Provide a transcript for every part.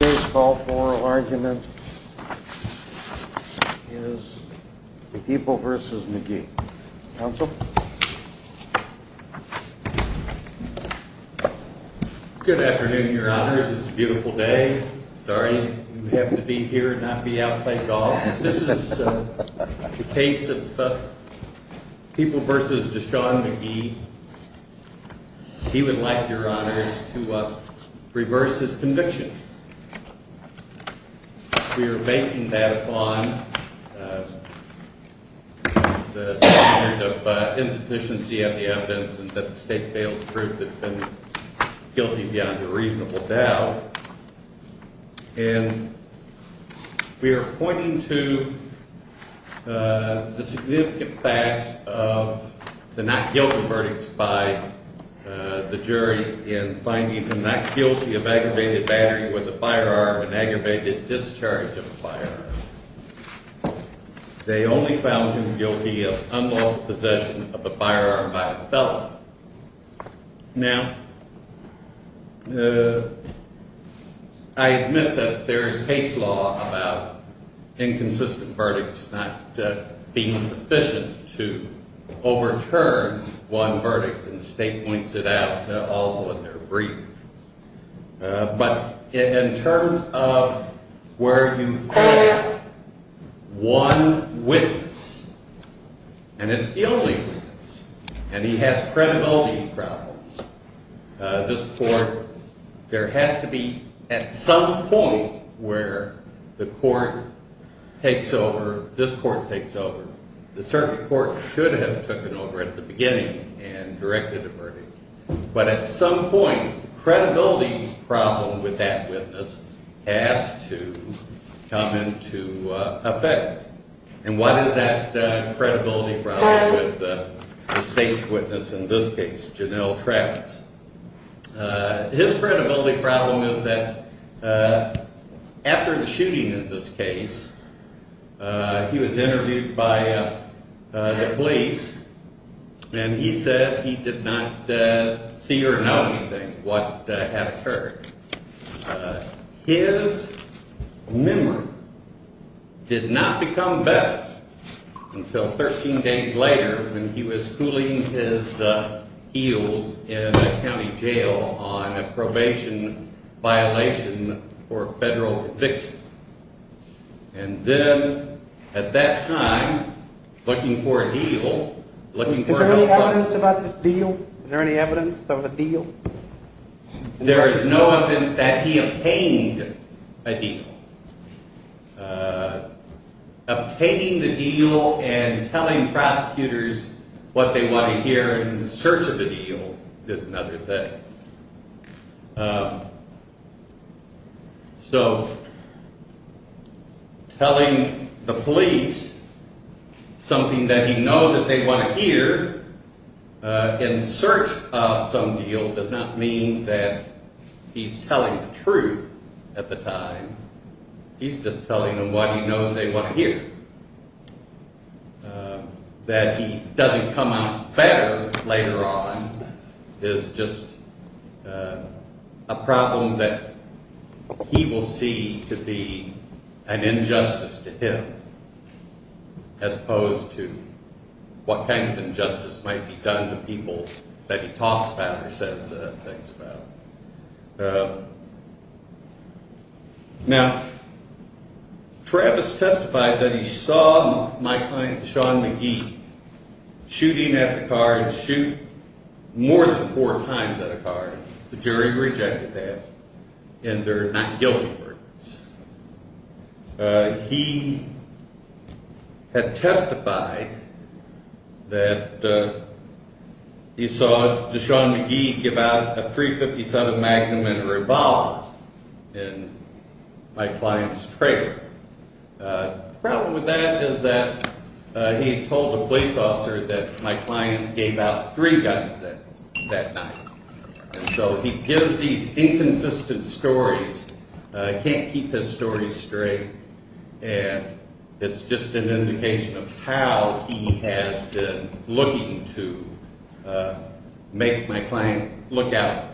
Today's call for argument is the People v. McGee. Council? Good afternoon, Your Honors. It's a beautiful day. Sorry you have to be here and not be out playing golf. This is the case of People v. Deshaun McGee. He would like, Your Honors, to reverse his conviction. We are basing that upon the standard of insufficiency of the evidence and that the state failed to prove the defendant guilty beyond a reasonable doubt. And we are pointing to the significant facts of the not guilty verdicts by the jury in finding him not guilty of aggravated battery with a firearm and aggravated discharge of a firearm. They only found him guilty of unlawful possession of a firearm by a felon. Now, I admit that there is case law about inconsistent verdicts not being sufficient to overturn one verdict, and the state points it out also in their brief. But in terms of where you have one witness, and it's the only witness, and he has credibility problems, this court, there has to be at some point where the court takes over, this court takes over. The circuit court should have taken over at the beginning and directed the verdict. But at some point, the credibility problem with that witness has to come into effect. And what is that credibility problem with the state's witness in this case, Janelle Travis? His credibility problem is that after the shooting in this case, he was interviewed by the police, and he said he did not see or know anything what had occurred. His memory did not become better until 13 days later when he was cooling his heels in a county jail on a probation violation for federal eviction. And then at that time, looking for a deal, looking for help from… Is there any evidence about this deal? Is there any evidence of a deal? There is no evidence that he obtained a deal. Obtaining the deal and telling prosecutors what they want to hear in search of a deal is another thing. So telling the police something that he knows that they want to hear in search of some deal does not mean that he's telling the truth at the time. He's just telling them what he knows they want to hear. That he doesn't come out better later on is just a problem that he will see to be an injustice to him as opposed to what kind of injustice might be done to people that he talks about or says things about. Now, Travis testified that he saw my client, Deshaun McGee, shooting at the car and shoot more than four times at a car. The jury rejected that, and they're not guilty. He had testified that he saw Deshaun McGee give out a .357 Magnum and a revolver in my client's trailer. The problem with that is that he told the police officer that my client gave out three guns that night. So he gives these inconsistent stories, can't keep his stories straight, and it's just an indication of how he has been looking to make my client look out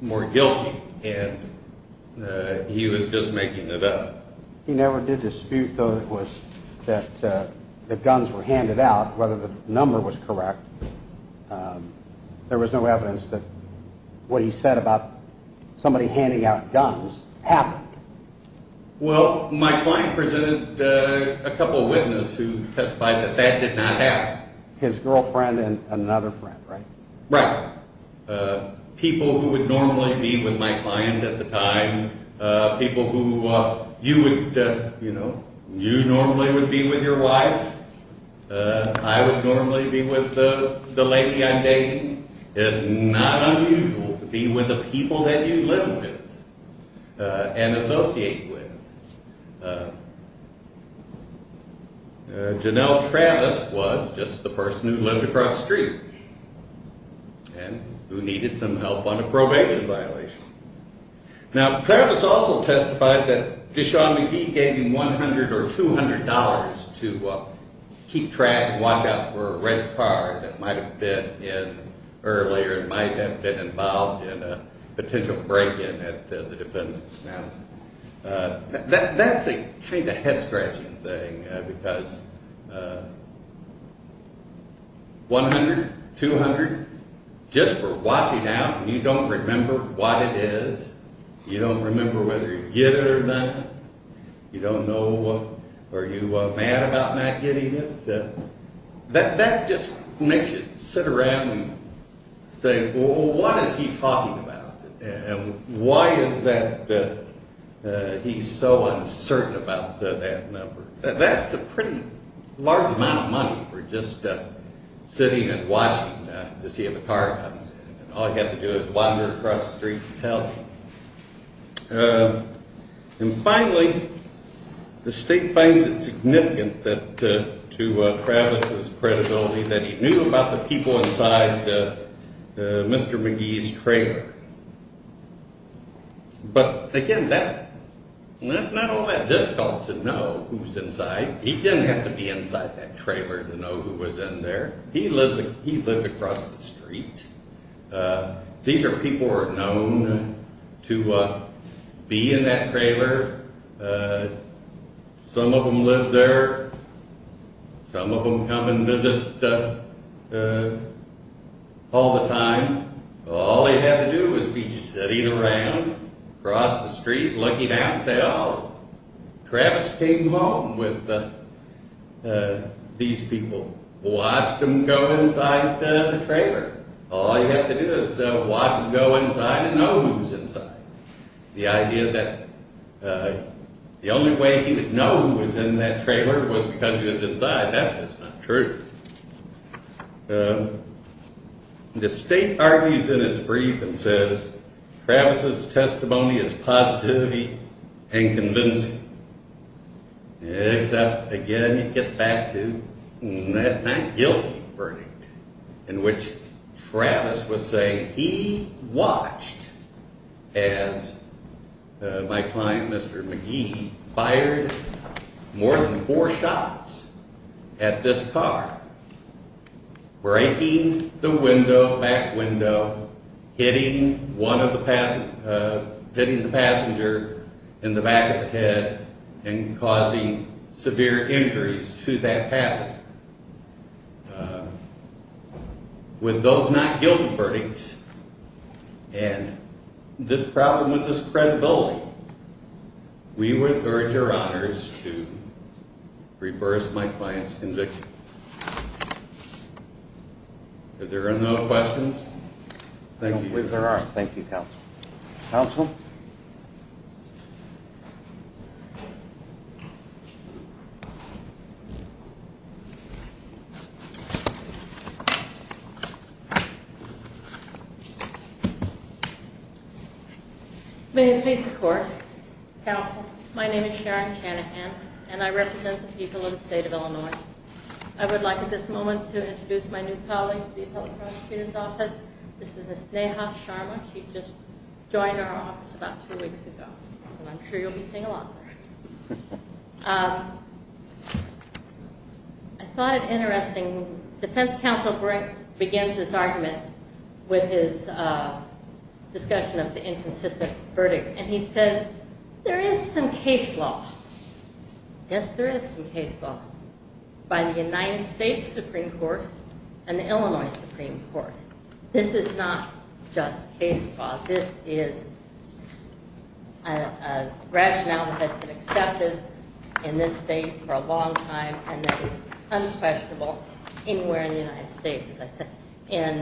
more guilty, and he was just making it up. He never did dispute, though, that guns were handed out, whether the number was correct. There was no evidence that what he said about somebody handing out guns happened. Well, my client presented a couple of witnesses who testified that that did not happen. His girlfriend and another friend, right? Right. People who would normally be with my client at the time, people who you normally would be with your wife, I would normally be with the lady I'm dating. It's not unusual to be with the people that you live with and associate with. Janelle Travis was just the person who lived across the street and who needed some help on a probation violation. Now, Travis also testified that Deshaun McGee gave him $100 or $200 to keep track and watch out for a red car that might have been in earlier and might have been involved in a potential break-in at the defendant's house. That's a kind of head-scratching thing, because $100, $200, just for watching out and you don't remember what it is, you don't remember whether you get it or not, you don't know, are you mad about not getting it? That just makes you sit around and say, well, what is he talking about? And why is that he's so uncertain about that number? That's a pretty large amount of money for just sitting and watching to see if a car comes. All you have to do is wander across the street and tell. And finally, the state finds it significant to Travis' credibility that he knew about the people inside Mr. McGee's trailer. But again, that's not all that difficult to know who's inside. He didn't have to be inside that trailer to know who was in there. He lived across the street. These are people who are known to be in that trailer. Some of them live there. Some of them come and visit all the time. All they had to do was be sitting around across the street looking out and say, oh, Travis came home with these people. Watched them go inside the trailer. All you have to do is watch them go inside and know who's inside. The idea that the only way he would know who was in that trailer was because he was inside, that's just not true. The state argues in its brief and says, Travis' testimony is positive and convincing. Except, again, it gets back to that guilty verdict in which Travis was saying he watched as my client, Mr. McGee, fired more than four shots at this car. Breaking the back window, hitting the passenger in the back of the head and causing severe injuries to that passenger. With those not guilty verdicts and this problem with this credibility, we would urge your honors to reverse my client's conviction. Are there no questions? I don't believe there are. Thank you, counsel. Counsel? May it please the court. Counsel, my name is Sharon Chanahan and I represent the people of the state of Illinois. I would like at this moment to introduce my new colleague to the appellate prosecutor's office. This is Ms. Neha Sharma. She just joined our office about two weeks ago. And I'm sure you'll be seeing a lot of her. I thought it interesting. Defense counsel begins this argument with his discussion of the inconsistent verdicts. And he says, there is some case law. Yes, there is some case law. By the United States Supreme Court and the Illinois Supreme Court. This is not just case law. This is a rationale that has been accepted in this state for a long time and that is unquestionable anywhere in the United States, as I said. In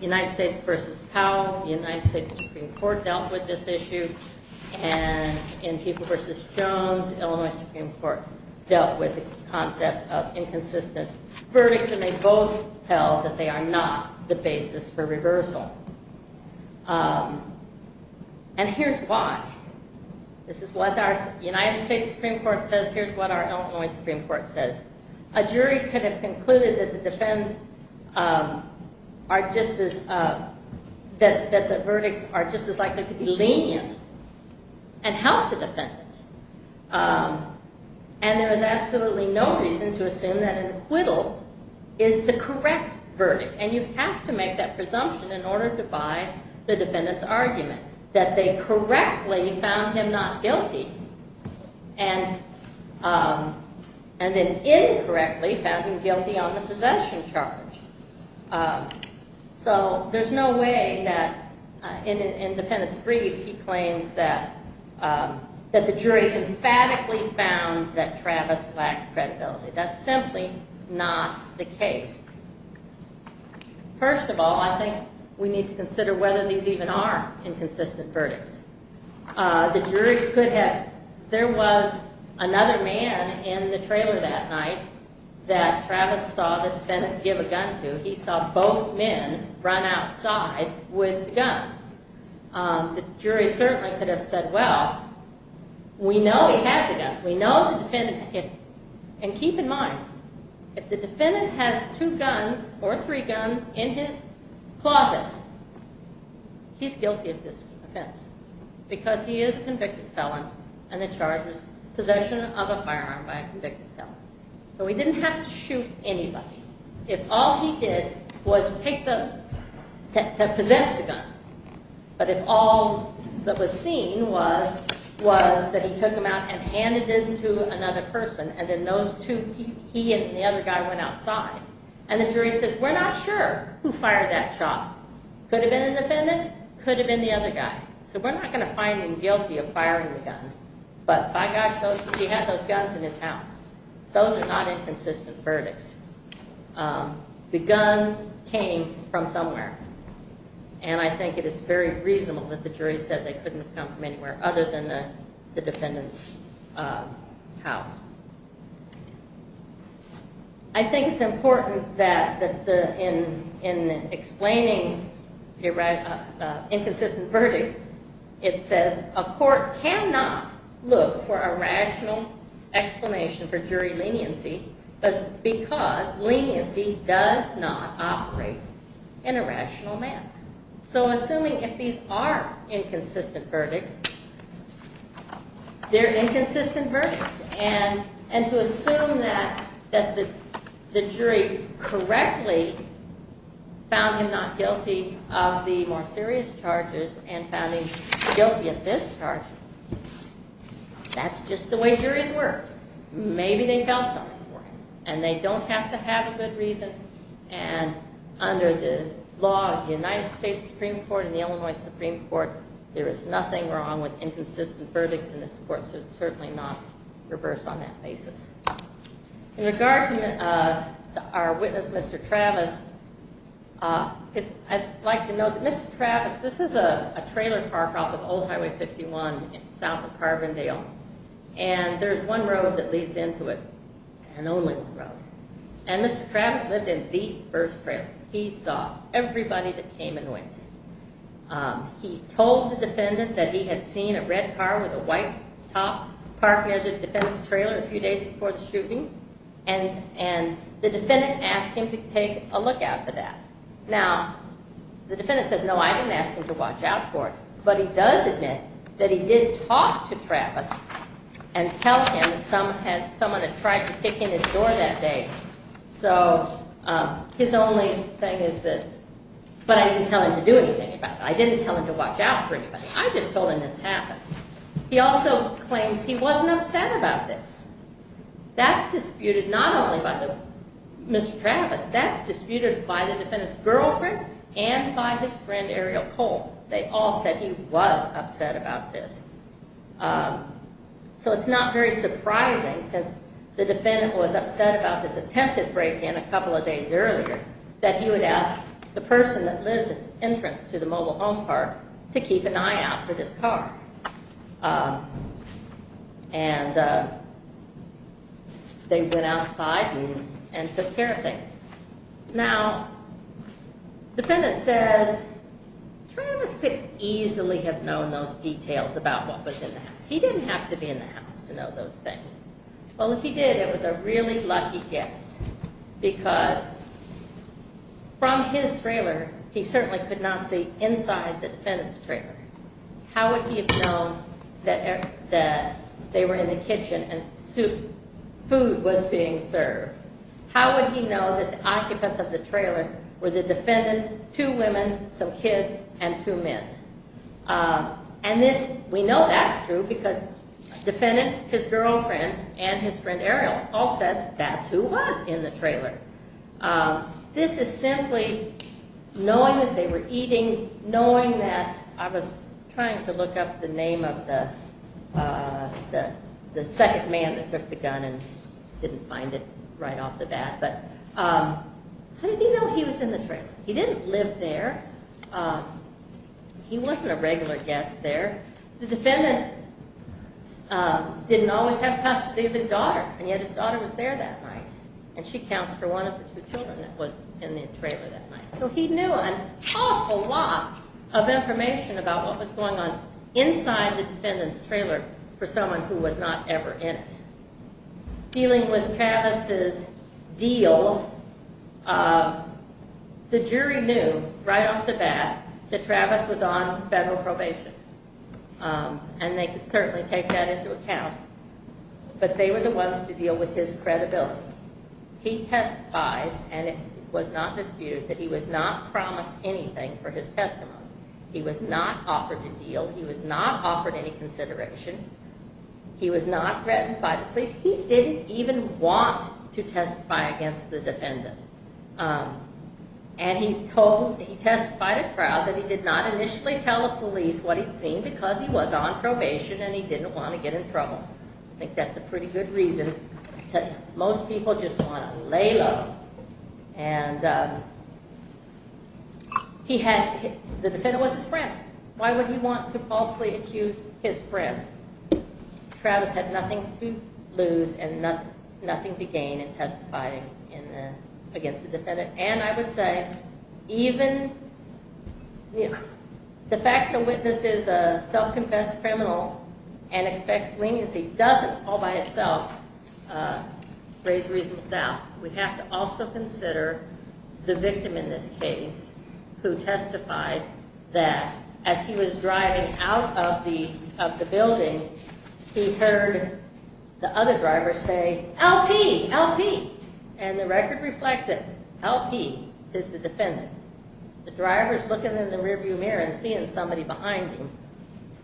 United States v. Powell, the United States Supreme Court dealt with this issue. And in People v. Jones, Illinois Supreme Court dealt with the concept of inconsistent verdicts. And they both held that they are not the basis for reversal. And here's why. This is what our United States Supreme Court says. Here's what our Illinois Supreme Court says. A jury could have concluded that the verdicts are just as likely to be lenient and help the defendant. And there is absolutely no reason to assume that an acquittal is the correct verdict. And you have to make that presumption in order to buy the defendant's argument. That they correctly found him not guilty. And then incorrectly found him guilty on the possession charge. So there's no way that in the defendant's brief he claims that the jury emphatically found that Travis lacked credibility. That's simply not the case. First of all, I think we need to consider whether these even are inconsistent verdicts. The jury could have... There was another man in the trailer that night that Travis saw the defendant give a gun to. He saw both men run outside with the guns. The jury certainly could have said, well, we know he had the guns. We know the defendant... And keep in mind, if the defendant has two guns or three guns in his closet, he's guilty of this offense. Because he is a convicted felon. And the charge is possession of a firearm by a convicted felon. So he didn't have to shoot anybody. If all he did was take those, to possess the guns. But if all that was seen was that he took them out and handed them to another person. And then those two, he and the other guy, went outside. And the jury says, we're not sure who fired that shot. Could have been the defendant. Could have been the other guy. I find him guilty of firing the gun. But by gosh, he had those guns in his house. Those are not inconsistent verdicts. The guns came from somewhere. And I think it is very reasonable that the jury said they couldn't have come from anywhere other than the defendant's house. I think it's important that in explaining inconsistent verdicts, it says a court cannot look for a rational explanation for jury leniency. Because leniency does not operate in a rational manner. So assuming if these are inconsistent verdicts, they're inconsistent verdicts. And to assume that the jury correctly found him not guilty of the more serious charges and found him guilty of this charge, that's just the way juries work. Maybe they felt something for him. And they don't have to have a good reason. And under the law of the United States Supreme Court and the Illinois Supreme Court, there is nothing wrong with inconsistent verdicts in this court. So it's certainly not reversed on that basis. In regard to our witness, Mr. Travis, I'd like to note that Mr. Travis, this is a trailer park off of Old Highway 51 south of Carbondale. And there's one road that leads into it, an only road. And Mr. Travis lived in the first trailer. He saw everybody that came and went. He told the defendant that he had seen a red car with a white top parked near the defendant's trailer a few days before the shooting. And the defendant asked him to take a lookout for that. Now, the defendant says, no, I didn't ask him to watch out for it. But he does admit that he did talk to Travis and tell him that someone had tried to kick in his door that day. So his only thing is that, but I didn't tell him to do anything about it. I didn't tell him to watch out for anybody. I just told him this happened. He also claims he wasn't upset about this. That's disputed not only by Mr. Travis, that's disputed by the defendant's girlfriend and by his friend, Ariel Cole. They all said he was upset about this. So it's not very surprising, since the defendant was upset about this attempted break-in a couple of days earlier, that he would ask the person that lives at the entrance to the mobile home park to keep an eye out for this car. And they went outside and took care of things. Now, the defendant says, Travis could easily have known those details about what was in the house. He didn't have to be in the house to know those things. Well, if he did, it was a really lucky guess. Because from his trailer, he certainly could not see inside the defendant's trailer. How would he have known that they were in the kitchen and food was being served? How would he know that the occupants of the trailer were the defendant, two women, some kids, and two men? And we know that's true, because the defendant, his girlfriend, and his friend, Ariel, all said that's who was in the trailer. This is simply knowing that they were eating, knowing that, I was trying to look up the name of the second man that took the gun and didn't find it right off the bat, but how did he know he was in the trailer? He didn't live there. He wasn't a regular guest there. The defendant didn't always have custody of his daughter, and yet his daughter was there that night. And she counts for one of the two children that was in the trailer that night. So he knew an awful lot of information about what was going on inside the defendant's trailer for someone who was not ever in it. Dealing with Travis's deal, the jury knew right off the bat that Travis was on federal probation, and they could certainly take that into account, but they were the ones to deal with his credibility. He testified, and it was not disputed, that he was not promised anything for his testimony. He was not offered a deal. He was not offered any consideration. He was not threatened by the police. He didn't even want to testify against the defendant. And he testified in trial that he did not initially tell the police what he'd seen because he was on probation and he didn't want to get in trouble. I think that's a pretty good reason that most people just want to lay low. And the defendant was his friend. Why would he want to falsely accuse his friend? Travis had nothing to lose and nothing to gain in testifying against the defendant. And I would say, even the fact the witness is a self-confessed criminal and expects leniency doesn't all by itself raise reasonable doubt. We have to also consider the victim in this case, who testified that as he was driving out of the building, he heard the other driver say, LP! LP! And the record reflects it. LP is the defendant. The driver's looking in the rearview mirror and seeing somebody behind him,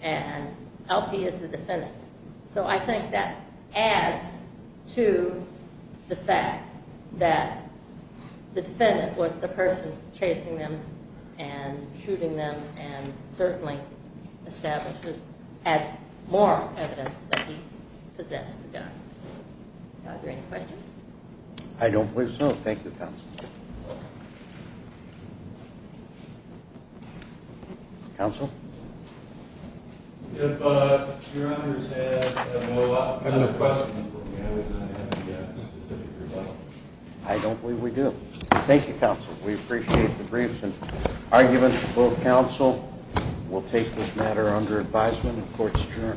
and LP is the defendant. So I think that adds to the fact that the defendant was the person chasing them and shooting them and certainly establishes as moral evidence that he possessed a gun. Are there any questions? I don't believe so. Thank you, counsel. Counsel? If your honors have no other questions for me, I was going to have to get a specific result. I don't believe we do. Thank you, counsel. We appreciate the briefs and arguments of both counsel. We'll take this matter under advisement in court's adjournment.